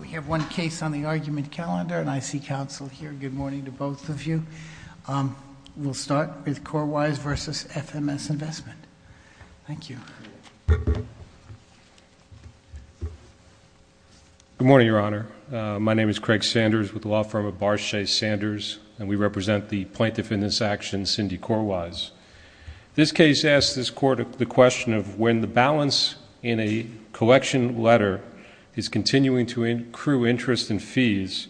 We have one case on the argument calendar, and I see counsel here. Good morning to both of you. We'll start with Corwise v. FMS Investment. Thank you. Good morning, Your Honor. My name is Craig Sanders with the law firm of Barshay Sanders, and we represent the Plaintiff in this action, Cindy Corwise. This case asks this Court the question of when the balance in a collection letter is continuing to accrue interest and fees,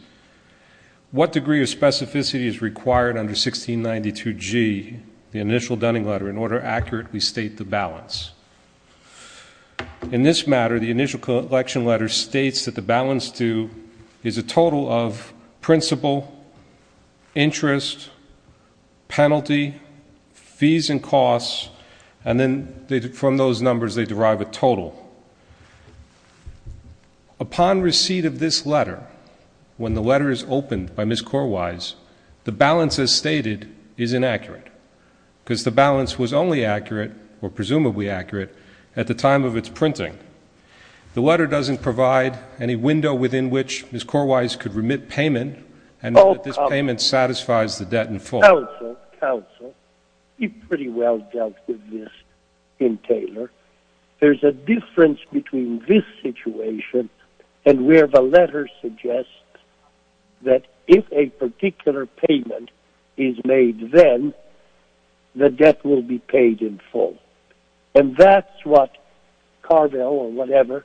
what degree of specificity is required under 1692G, the initial Dunning letter, in order to accurately state the balance? In this matter, the initial collection letter states that the balance due is a total of principal, interest, penalty, fees and costs, and then from those numbers they derive a total. Upon receipt of this letter, when the letter is opened by Ms. Corwise, the balance as stated is inaccurate, because the balance was only accurate, or presumably accurate, at the time of its printing. The letter doesn't provide any window within which Ms. Corwise could remit payment and that this payment satisfies the debt in full. Counsel, counsel, you've pretty well dealt with this in Taylor. There's a difference between this situation and where the letter suggests that if a particular payment is made then, the debt will be paid in full. And that's what Carvel, or whatever,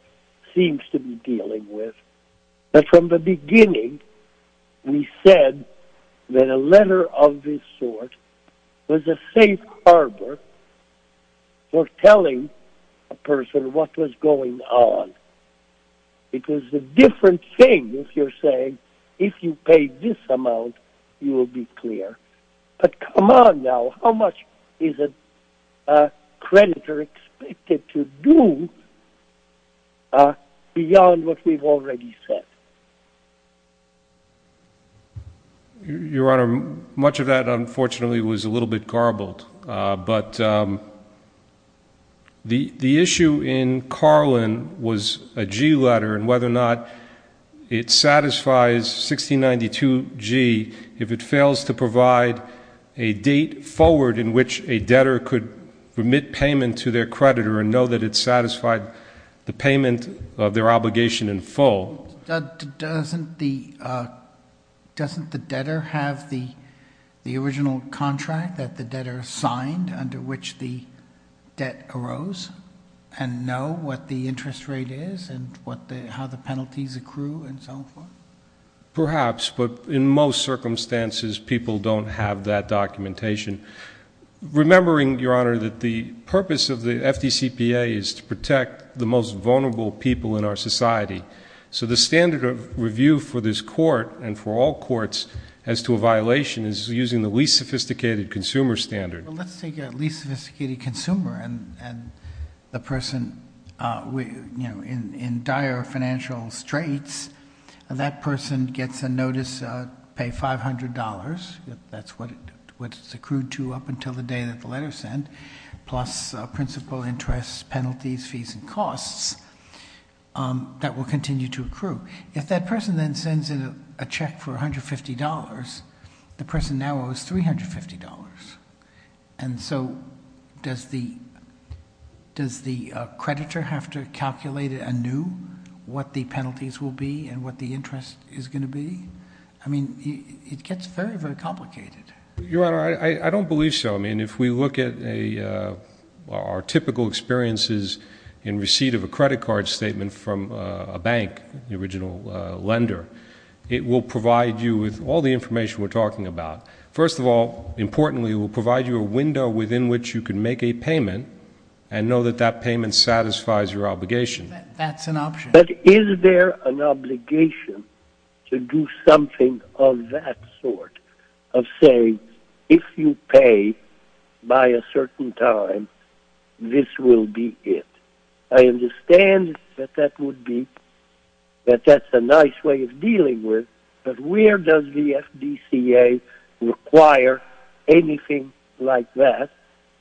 seems to be dealing with. But from the beginning, we said that a letter of this sort was a safe harbor for telling a person what was going on. It was a different thing if you're saying, if you pay this amount, you will be clear. But come on now, how much is a creditor expected to do beyond what we've already said? Your Honor, much of that unfortunately was a little bit garbled. But the issue in Carlin was a G letter, and whether or not it satisfies 1692G, if it fails to provide a date forward in which a debtor could remit payment to their creditor and know that it satisfied the payment of their obligation in full. Doesn't the debtor have the original contract that the debtor signed under which the debt arose and know what the interest rate is and how the penalties accrue and so forth? Perhaps, but in most circumstances, people don't have that documentation. Remembering, Your Honor, that the purpose of the FDCPA is to protect the most vulnerable people in our society. So the standard of review for this court and for all courts as to a violation is using the least sophisticated consumer standard. Let's take a least sophisticated consumer and the person in dire financial straits. That person gets a notice to pay $500. That's what it's accrued to up until the day that the letter is sent, plus principal, interest, penalties, fees, and costs that will continue to accrue. If that person then sends in a check for $150, the person now owes $350. And so does the creditor have to calculate anew what the penalties will be and what the interest is going to be? I mean, it gets very, very complicated. Your Honor, I don't believe so. I mean, if we look at our typical experiences in receipt of a credit card statement from a bank, the original lender, it will provide you with all the information we're talking about. First of all, importantly, it will provide you a window within which you can make a payment and know that that payment satisfies your obligation. That's an option. But is there an obligation to do something of that sort, of saying, if you pay by a certain time, this will be it? I understand that that's a nice way of dealing with it, but where does the FDCA require anything like that?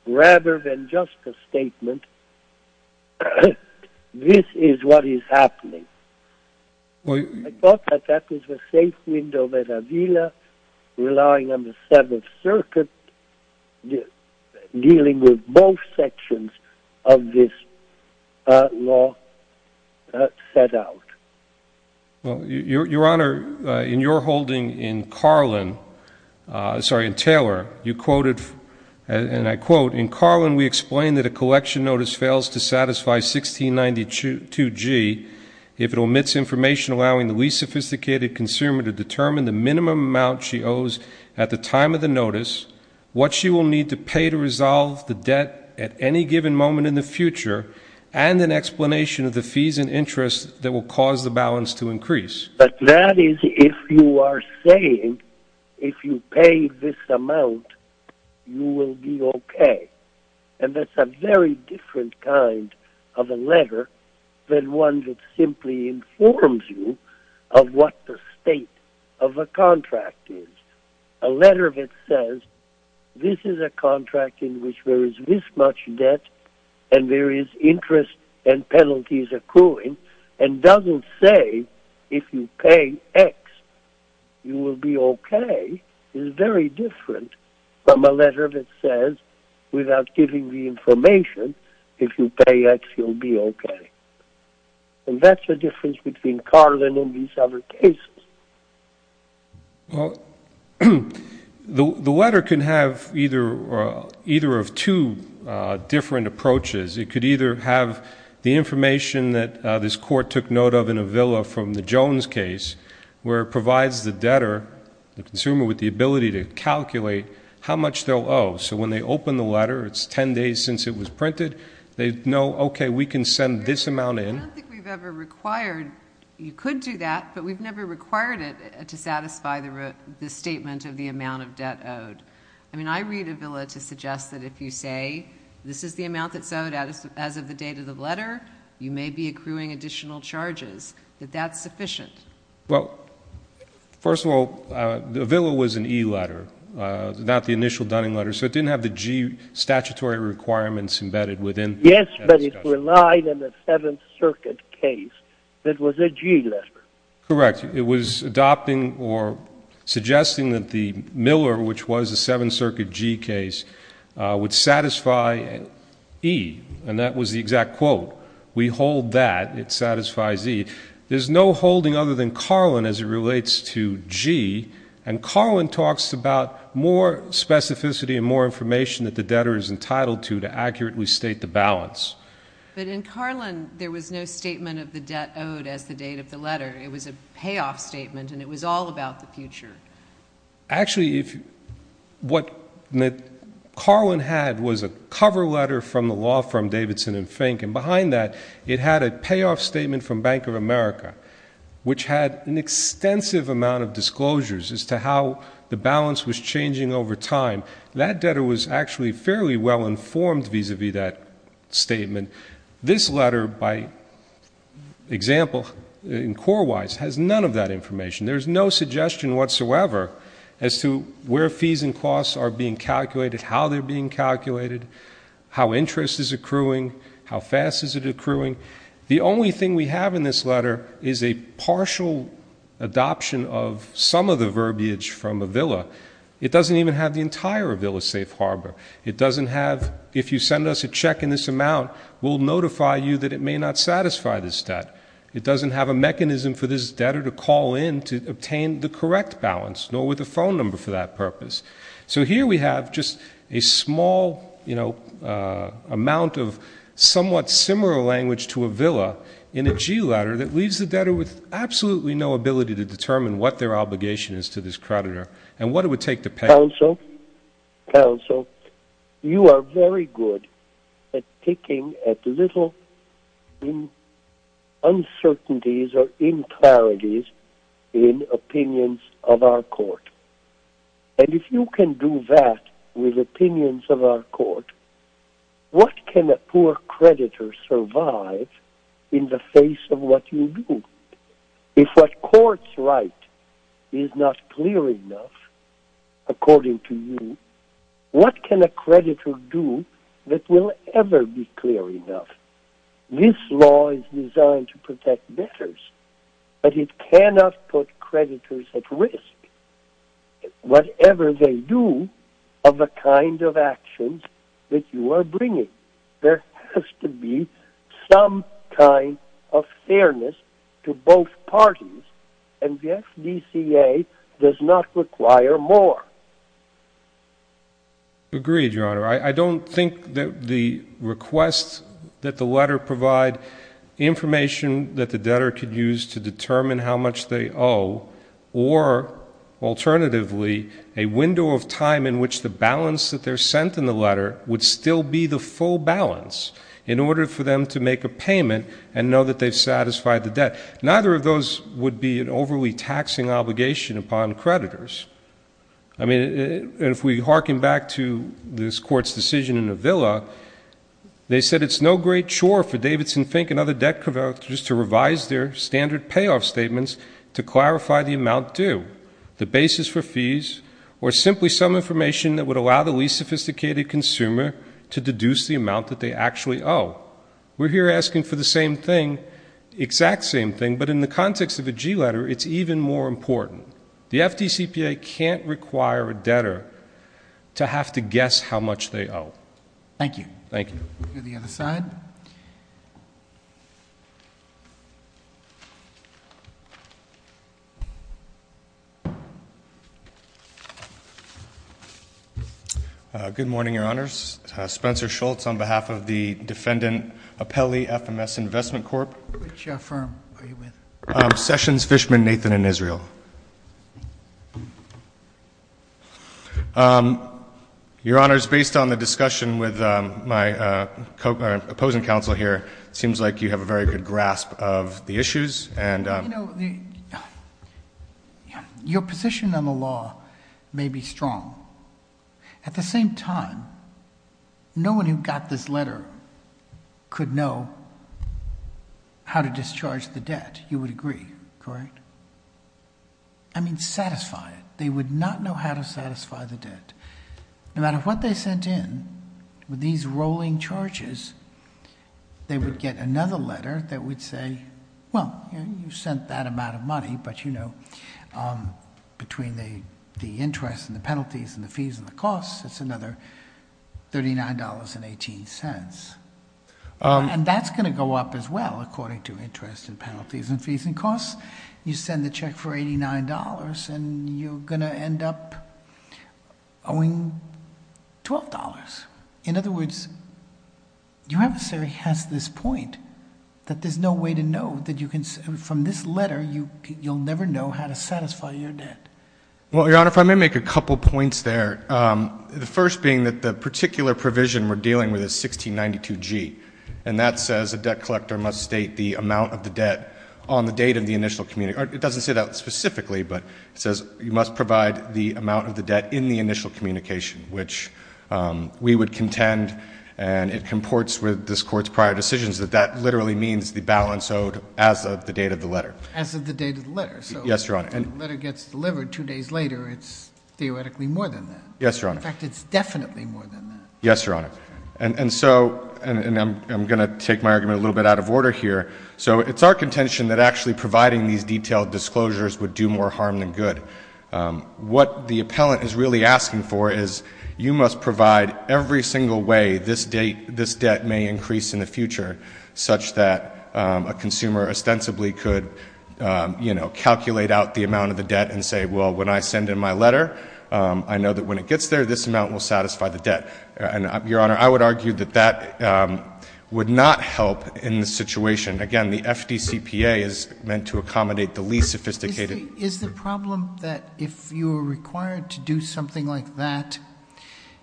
Rather than just a statement, this is what is happening. I thought that that was a safe window that Avila, relying on the Seventh Circuit, dealing with both sections of this law, set out. Your Honor, in your holding in Carlin, sorry, in Taylor, you quoted, and I quote, in Carlin, we explain that a collection notice fails to satisfy 1692G if it omits information allowing the least sophisticated consumer to determine the minimum amount she owes at the time of the notice, what she will need to pay to resolve the debt at any given moment in the future, and an explanation of the fees and interest that will cause the balance to increase. But that is if you are saying, if you pay this amount, you will be okay. And that's a very different kind of a letter than one that simply informs you of what the state of a contract is. A letter that says, this is a contract in which there is this much debt, and there is interest and penalties accruing, and doesn't say, if you pay X, you will be okay, is very different from a letter that says, without giving the information, if you pay X, you'll be okay. And that's the difference between Carlin and these other cases. Well, the letter can have either of two different approaches. It could either have the information that this court took note of in Avila from the Jones case, where it provides the debtor, the consumer, with the ability to calculate how much they'll owe. So when they open the letter, it's 10 days since it was printed. They know, okay, we can send this amount in. I don't think we've ever required. You could do that, but we've never required it to satisfy the statement of the amount of debt owed. I mean, I read Avila to suggest that if you say, this is the amount that's owed as of the date of the letter, you may be accruing additional charges, that that's sufficient. Well, first of all, Avila was an E letter, not the initial Dunning letter, so it didn't have the G statutory requirements embedded within that discussion. Yes, but it relied on the Seventh Circuit case. It was a G letter. Correct. It was adopting or suggesting that the Miller, which was a Seventh Circuit G case, would satisfy E, and that was the exact quote. We hold that. It satisfies E. There's no holding other than Carlin as it relates to G, and Carlin talks about more specificity and more information that the debtor is entitled to to accurately state the balance. But in Carlin, there was no statement of the debt owed as the date of the letter. It was a payoff statement, and it was all about the future. Actually, what Carlin had was a cover letter from the law firm Davidson & Fink, and behind that it had a payoff statement from Bank of America, which had an extensive amount of disclosures as to how the balance was changing over time. That debtor was actually fairly well informed vis-à-vis that statement. This letter, by example, in core wise, has none of that information. There's no suggestion whatsoever as to where fees and costs are being calculated, how they're being calculated, how interest is accruing, how fast is it accruing. The only thing we have in this letter is a partial adoption of some of the verbiage from Avila. It doesn't even have the entire Avila safe harbor. It doesn't have, if you send us a check in this amount, we'll notify you that it may not satisfy this debt. It doesn't have a mechanism for this debtor to call in to obtain the correct balance, nor with a phone number for that purpose. So here we have just a small amount of somewhat similar language to Avila in a G letter that leaves the debtor with absolutely no ability to determine what their obligation is to this creditor and what it would take to pay. Counsel, you are very good at picking at little uncertainties or impurities in opinions of our court. And if you can do that with opinions of our court, what can a poor creditor survive in the face of what you do? If what courts write is not clear enough, according to you, what can a creditor do that will ever be clear enough? This law is designed to protect debtors, but it cannot put creditors at risk. Whatever they do of the kind of actions that you are bringing, there has to be some kind of fairness to both parties. And the FDCA does not require more. Agreed, Your Honor. I don't think that the requests that the letter provide, information that the debtor could use to determine how much they owe, or, alternatively, a window of time in which the balance that they're sent in the letter would still be the full balance in order for them to make a payment and know that they've satisfied the debt. Neither of those would be an overly taxing obligation upon creditors. I mean, if we harken back to this Court's decision in Avila, they said it's no great chore for Davidson, Fink, and other debt collectors to revise their standard payoff statements to clarify the amount due, the basis for fees, or simply some information that would allow the least sophisticated consumer to deduce the amount that they actually owe. We're here asking for the same thing, exact same thing, but in the context of a G letter, it's even more important. The FDCPA can't require a debtor to have to guess how much they owe. Thank you. Thank you. We'll go to the other side. Good morning, Your Honors. Spencer Schultz on behalf of the Defendant Appelli FMS Investment Corp. Which firm are you with? Sessions Fishman Nathan & Israel. Your Honors, based on the discussion with my opposing counsel here, it seems like you have a very good grasp of the issues. You know, your position on the law may be strong. At the same time, no one who got this letter could know how to discharge the debt. You would agree, correct? I mean, satisfy it. They would not know how to satisfy the debt. No matter what they sent in, with these rolling charges, they would get another letter that would say, well, you sent that amount of money, but you know, between the interest and the penalties and the fees and the costs, it's another $39.18. And that's going to go up as well, according to interest and penalties and fees and costs. You send the check for $89, and you're going to end up owing $12. In other words, your adversary has this point that there's no way to know. From this letter, you'll never know how to satisfy your debt. Well, Your Honor, if I may make a couple points there. The first being that the particular provision we're dealing with is 1692G, and that says a debt collector must state the amount of the debt on the date of the initial communication. It doesn't say that specifically, but it says you must provide the amount of the debt in the initial communication, which we would contend, and it comports with this Court's prior decisions, that that literally means the balance owed as of the date of the letter. As of the date of the letter. Yes, Your Honor. If the letter gets delivered two days later, it's theoretically more than that. Yes, Your Honor. In fact, it's definitely more than that. Yes, Your Honor. And so, and I'm going to take my argument a little bit out of order here. So it's our contention that actually providing these detailed disclosures would do more harm than good. What the appellant is really asking for is you must provide every single way this debt may increase in the future, such that a consumer ostensibly could, you know, calculate out the amount of the debt and say, well, when I send in my letter, I know that when it gets there, this amount will satisfy the debt. And, Your Honor, I would argue that that would not help in this situation. Again, the FDCPA is meant to accommodate the least sophisticated. Is the problem that if you were required to do something like that,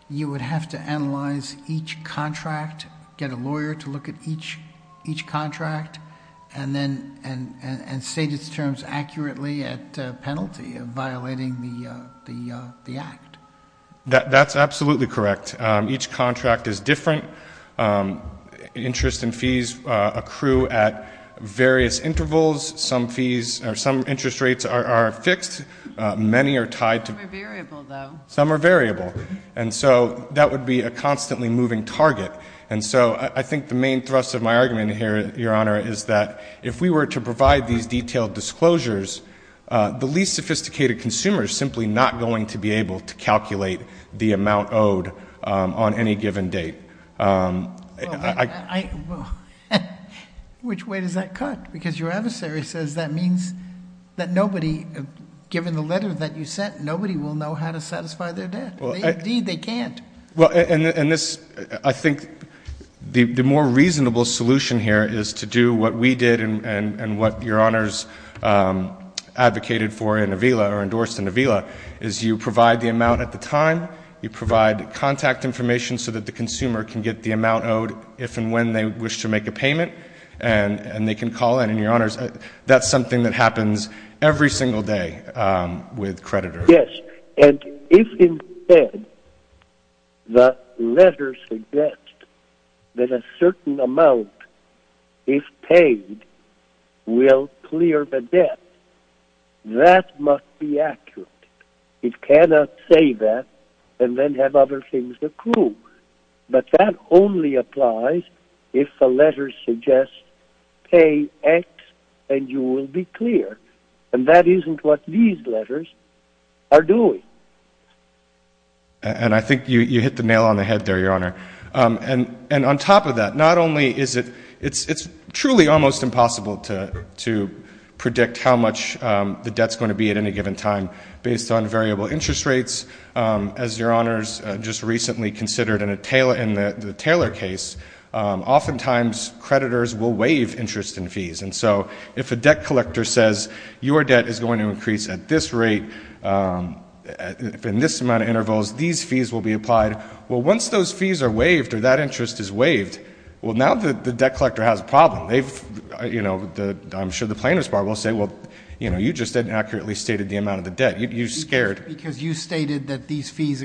you would have to analyze each contract, get a lawyer to look at each contract, and then state its terms accurately at penalty of violating the act? That's absolutely correct. Each contract is different. Interest and fees accrue at various intervals. Some fees or some interest rates are fixed. Many are tied to. Some are variable, though. Some are variable. And so that would be a constantly moving target. And so I think the main thrust of my argument here, Your Honor, is that if we were to provide these detailed disclosures, the least sophisticated consumer is simply not going to be able to calculate the amount owed on any given date. Which way does that cut? Because your adversary says that means that nobody, given the letter that you sent, nobody will know how to satisfy their debt. Indeed, they can't. Well, and this, I think the more reasonable solution here is to do what we did and what Your Honors advocated for in Avila or endorsed in Avila, is you provide the amount at the time, you provide contact information so that the consumer can get the amount owed if and when they wish to make a payment, and they can call in. And, Your Honors, that's something that happens every single day with creditors. Yes, and if instead the letter suggests that a certain amount, if paid, will clear the debt, that must be accurate. It cannot say that and then have other things accrue. But that only applies if the letter suggests pay X and you will be clear. And that isn't what these letters are doing. And I think you hit the nail on the head there, Your Honor. And on top of that, not only is it truly almost impossible to predict how much the debt is going to be at any given time based on variable interest rates, as Your Honors just recently considered in the Taylor case, oftentimes creditors will waive interest and fees. And so if a debt collector says your debt is going to increase at this rate, in this amount of intervals, these fees will be applied, well, once those fees are waived or that interest is waived, well, now the debt collector has a problem. I'm sure the plaintiff's bar will say, well, you just inaccurately stated the amount of the debt. You scared. Because you stated that these fees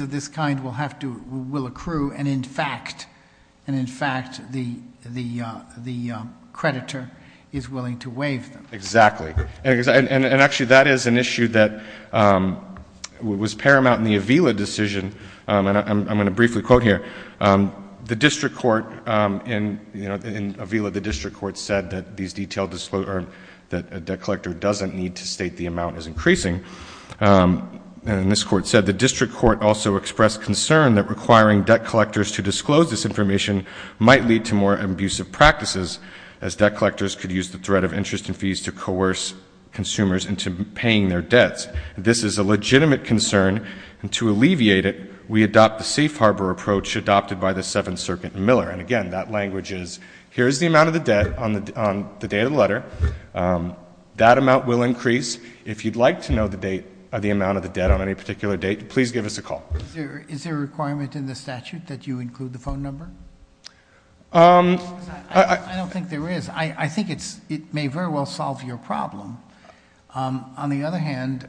of this kind will accrue and, in fact, the creditor is willing to waive them. Exactly. And actually that is an issue that was paramount in the Avila decision, and I'm going to briefly quote here. The district court in Avila, the district court said that a debt collector doesn't need to state the amount is increasing. And this court said the district court also expressed concern that requiring debt collectors to disclose this information might lead to more abusive practices as debt collectors could use the threat of interest and fees to coerce consumers into paying their debts. This is a legitimate concern, and to alleviate it, we adopt the safe harbor approach adopted by the Seventh Circuit in Miller. And, again, that language is here is the amount of the debt on the day of the letter. That amount will increase. If you'd like to know the amount of the debt on any particular date, please give us a call. Is there a requirement in the statute that you include the phone number? I don't think there is. I think it may very well solve your problem. On the other hand,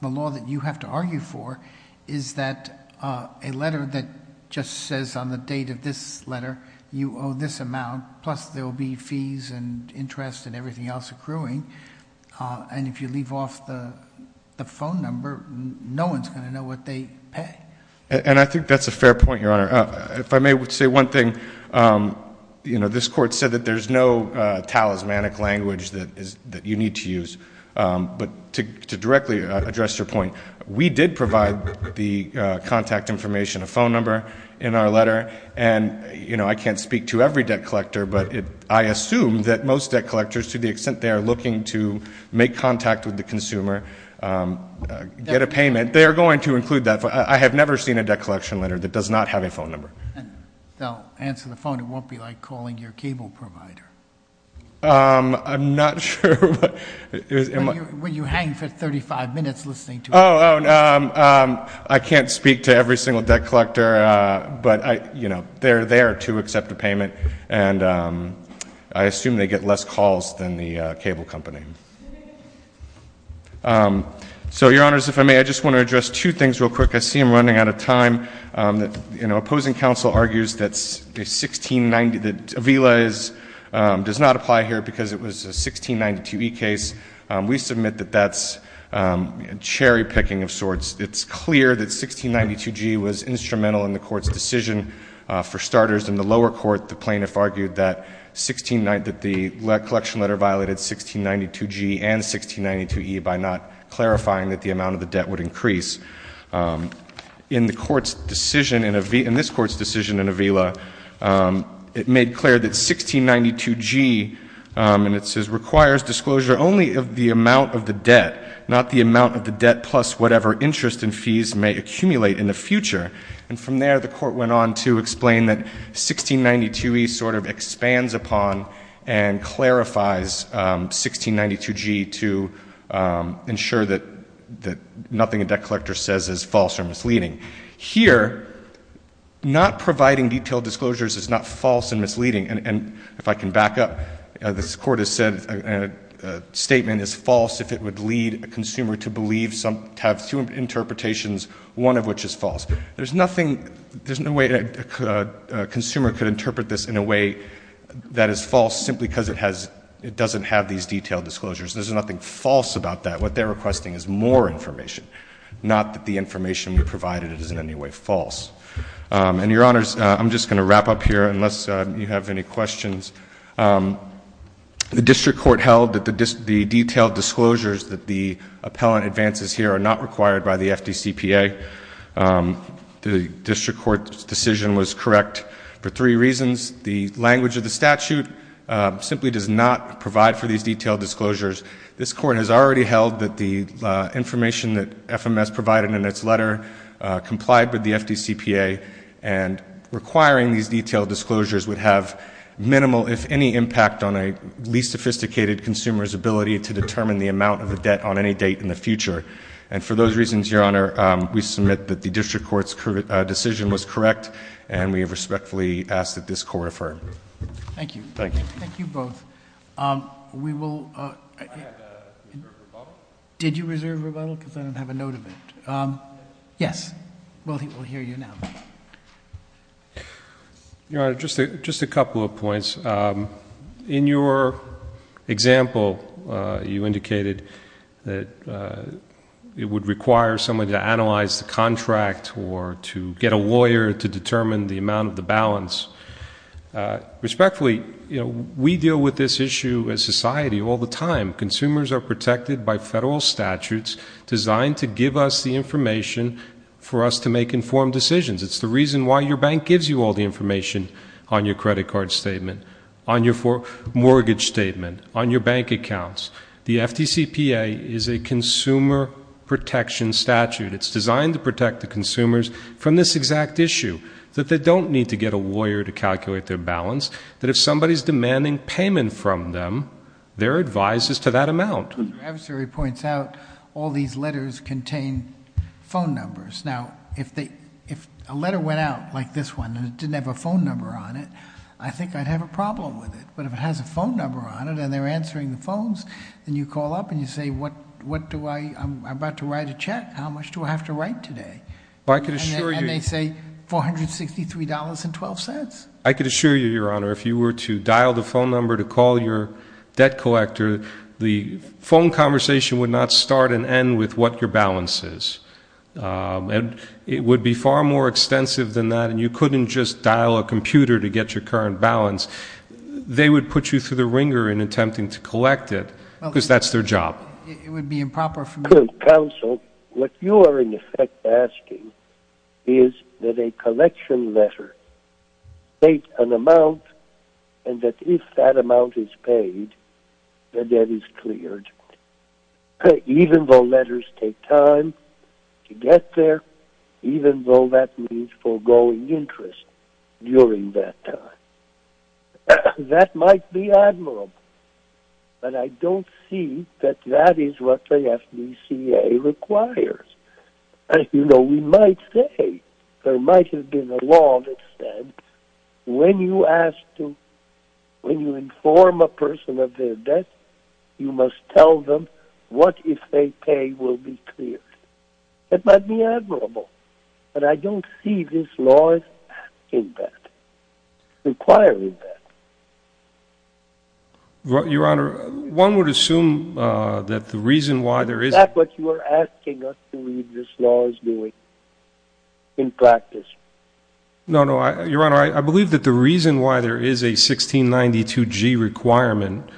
the law that you have to argue for is that a letter that just says on the date of this letter you owe this amount, plus there will be fees and interest and everything else accruing. And if you leave off the phone number, no one's going to know what they pay. And I think that's a fair point, Your Honor. If I may say one thing, you know, this court said that there's no talismanic language that you need to use. But to directly address your point, we did provide the contact information, a phone number, in our letter. And, you know, I can't speak to every debt collector, but I assume that most debt collectors, to the extent they are looking to make contact with the consumer, get a payment. They are going to include that. I have never seen a debt collection letter that does not have a phone number. If they'll answer the phone, it won't be like calling your cable provider. I'm not sure. Will you hang for 35 minutes listening to it? Oh, I can't speak to every single debt collector, but, you know, they are there to accept a payment. And I assume they get less calls than the cable company. So, Your Honors, if I may, I just want to address two things real quick. I see I'm running out of time. You know, opposing counsel argues that a VILA does not apply here because it was a 1692E case. We submit that that's cherry-picking of sorts. It's clear that 1692G was instrumental in the Court's decision. For starters, in the lower court, the plaintiff argued that the collection letter violated 1692G and 1692E by not clarifying that the amount of the debt would increase. In this Court's decision in a VILA, it made clear that 1692G, and it says, requires disclosure only of the amount of the debt, not the amount of the debt plus whatever interest and fees may accumulate in the future. And from there, the Court went on to explain that 1692E sort of expands upon and clarifies 1692G to ensure that nothing a debt collector says is false or misleading. Here, not providing detailed disclosures is not false and misleading. And if I can back up, this Court has said a statement is false if it would lead a consumer to believe to have two interpretations, one of which is false. There's nothing, there's no way a consumer could interpret this in a way that is false simply because it has, it doesn't have these detailed disclosures. There's nothing false about that. What they're requesting is more information, not that the information we provided is in any way false. And, Your Honors, I'm just going to wrap up here unless you have any questions. The District Court held that the detailed disclosures that the appellant advances here are not required by the FDCPA. The District Court's decision was correct for three reasons. The language of the statute simply does not provide for these detailed disclosures. This Court has already held that the information that FMS provided in its letter complied with the FDCPA, and requiring these detailed disclosures would have minimal, if any, impact on a least sophisticated consumer's ability to determine the amount of a debt on any date in the future. And for those reasons, Your Honor, we submit that the District Court's decision was correct, and we respectfully ask that this court refer. Thank you. Thank you. Thank you both. We will- I have a reserve rebuttal. Did you reserve rebuttal? Because I don't have a note of it. Yes. Well, he will hear you now. Your Honor, just a couple of points. In your example, you indicated that it would require someone to analyze the contract or to get a lawyer to determine the amount of the balance. Respectfully, we deal with this issue as a society all the time. Consumers are protected by federal statutes designed to give us the information for us to make informed decisions. It's the reason why your bank gives you all the information on your credit card statement, on your mortgage statement, on your bank accounts. The FDCPA is a consumer protection statute. It's designed to protect the consumers from this exact issue, that they don't need to get a lawyer to calculate their balance, that if somebody's demanding payment from them, their advice is to that amount. Your adversary points out all these letters contain phone numbers. Now, if a letter went out like this one and it didn't have a phone number on it, I think I'd have a problem with it. But if it has a phone number on it and they're answering the phones, then you call up and you say, I'm about to write a check. How much do I have to write today? And they say $463.12. I could assure you, Your Honor, if you were to dial the phone number to call your debt collector, the phone conversation would not start and end with what your balance is. It would be far more extensive than that, and you couldn't just dial a computer to get your current balance. They would put you through the wringer in attempting to collect it because that's their job. It would be improper for me. Counsel, what you are, in effect, asking is that a collection letter state an amount and that if that amount is paid, the debt is cleared, even though letters take time to get there, even though that means foregoing interest during that time. That might be admirable, but I don't see that that is what the FDCA requires. You know, we might say there might have been a law that said when you ask to, when you inform a person of their debt, you must tell them what if they pay will be cleared. That might be admirable, but I don't see this law as asking that, requiring that. Your Honor, one would assume that the reason why there is... Is that what you are asking us to read this law as doing in practice? No, no, Your Honor, I believe that the reason why there is a 1692G requirement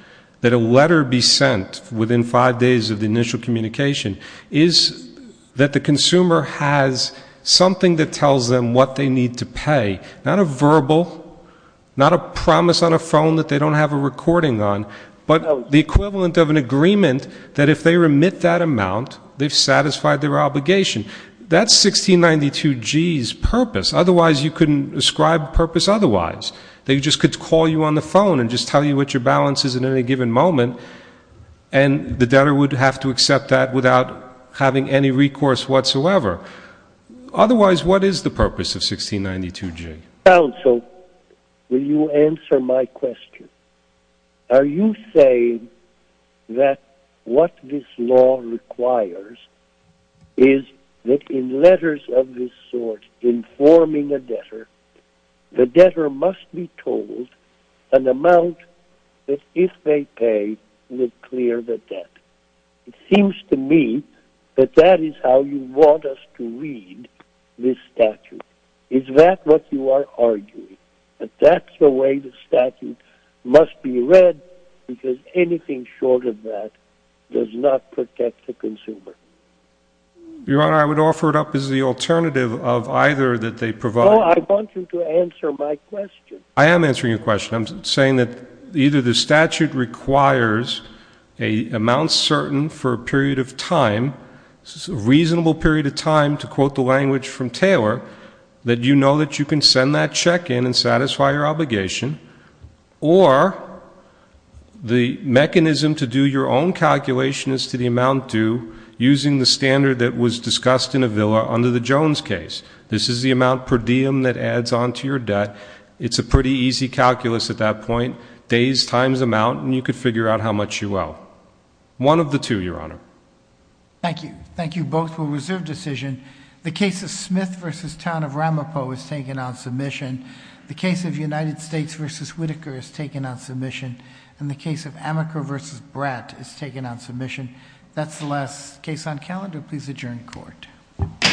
that a letter be sent within five days of the initial communication is that the consumer has something that tells them what they need to pay, not a verbal, not a promise on a phone that they don't have a recording on, but the equivalent of an agreement that if they remit that amount, they've satisfied their obligation. That's 1692G's purpose. Otherwise, you couldn't ascribe a purpose otherwise. They just could call you on the phone and just tell you what your balance is at any given moment, and the debtor would have to accept that without having any recourse whatsoever. Otherwise, what is the purpose of 1692G? Counsel, will you answer my question? Are you saying that what this law requires is that in letters of this sort, in forming a debtor, the debtor must be told an amount that if they pay would clear the debt? It seems to me that that is how you want us to read this statute. Is that what you are arguing, that that's the way the statute must be read because anything short of that does not protect the consumer? Your Honor, I would offer it up as the alternative of either that they provide. Oh, I want you to answer my question. I am answering your question. I'm saying that either the statute requires an amount certain for a period of time, a reasonable period of time, to quote the language from Taylor, that you know that you can send that check in and satisfy your obligation, or the mechanism to do your own calculation as to the amount due using the standard that was discussed in Avila under the Jones case. This is the amount per diem that adds on to your debt. It's a pretty easy calculus at that point, days times amount, and you could figure out how much you owe. One of the two, Your Honor. Thank you. Thank you both for reserve decision. The case of Smith v. Town of Ramapo was taken on submission. The case of United States v. Whitaker is taken on submission, and the case of Amaker v. Bratt is taken on submission. That's the last case on calendar. Please adjourn court. Court is adjourned.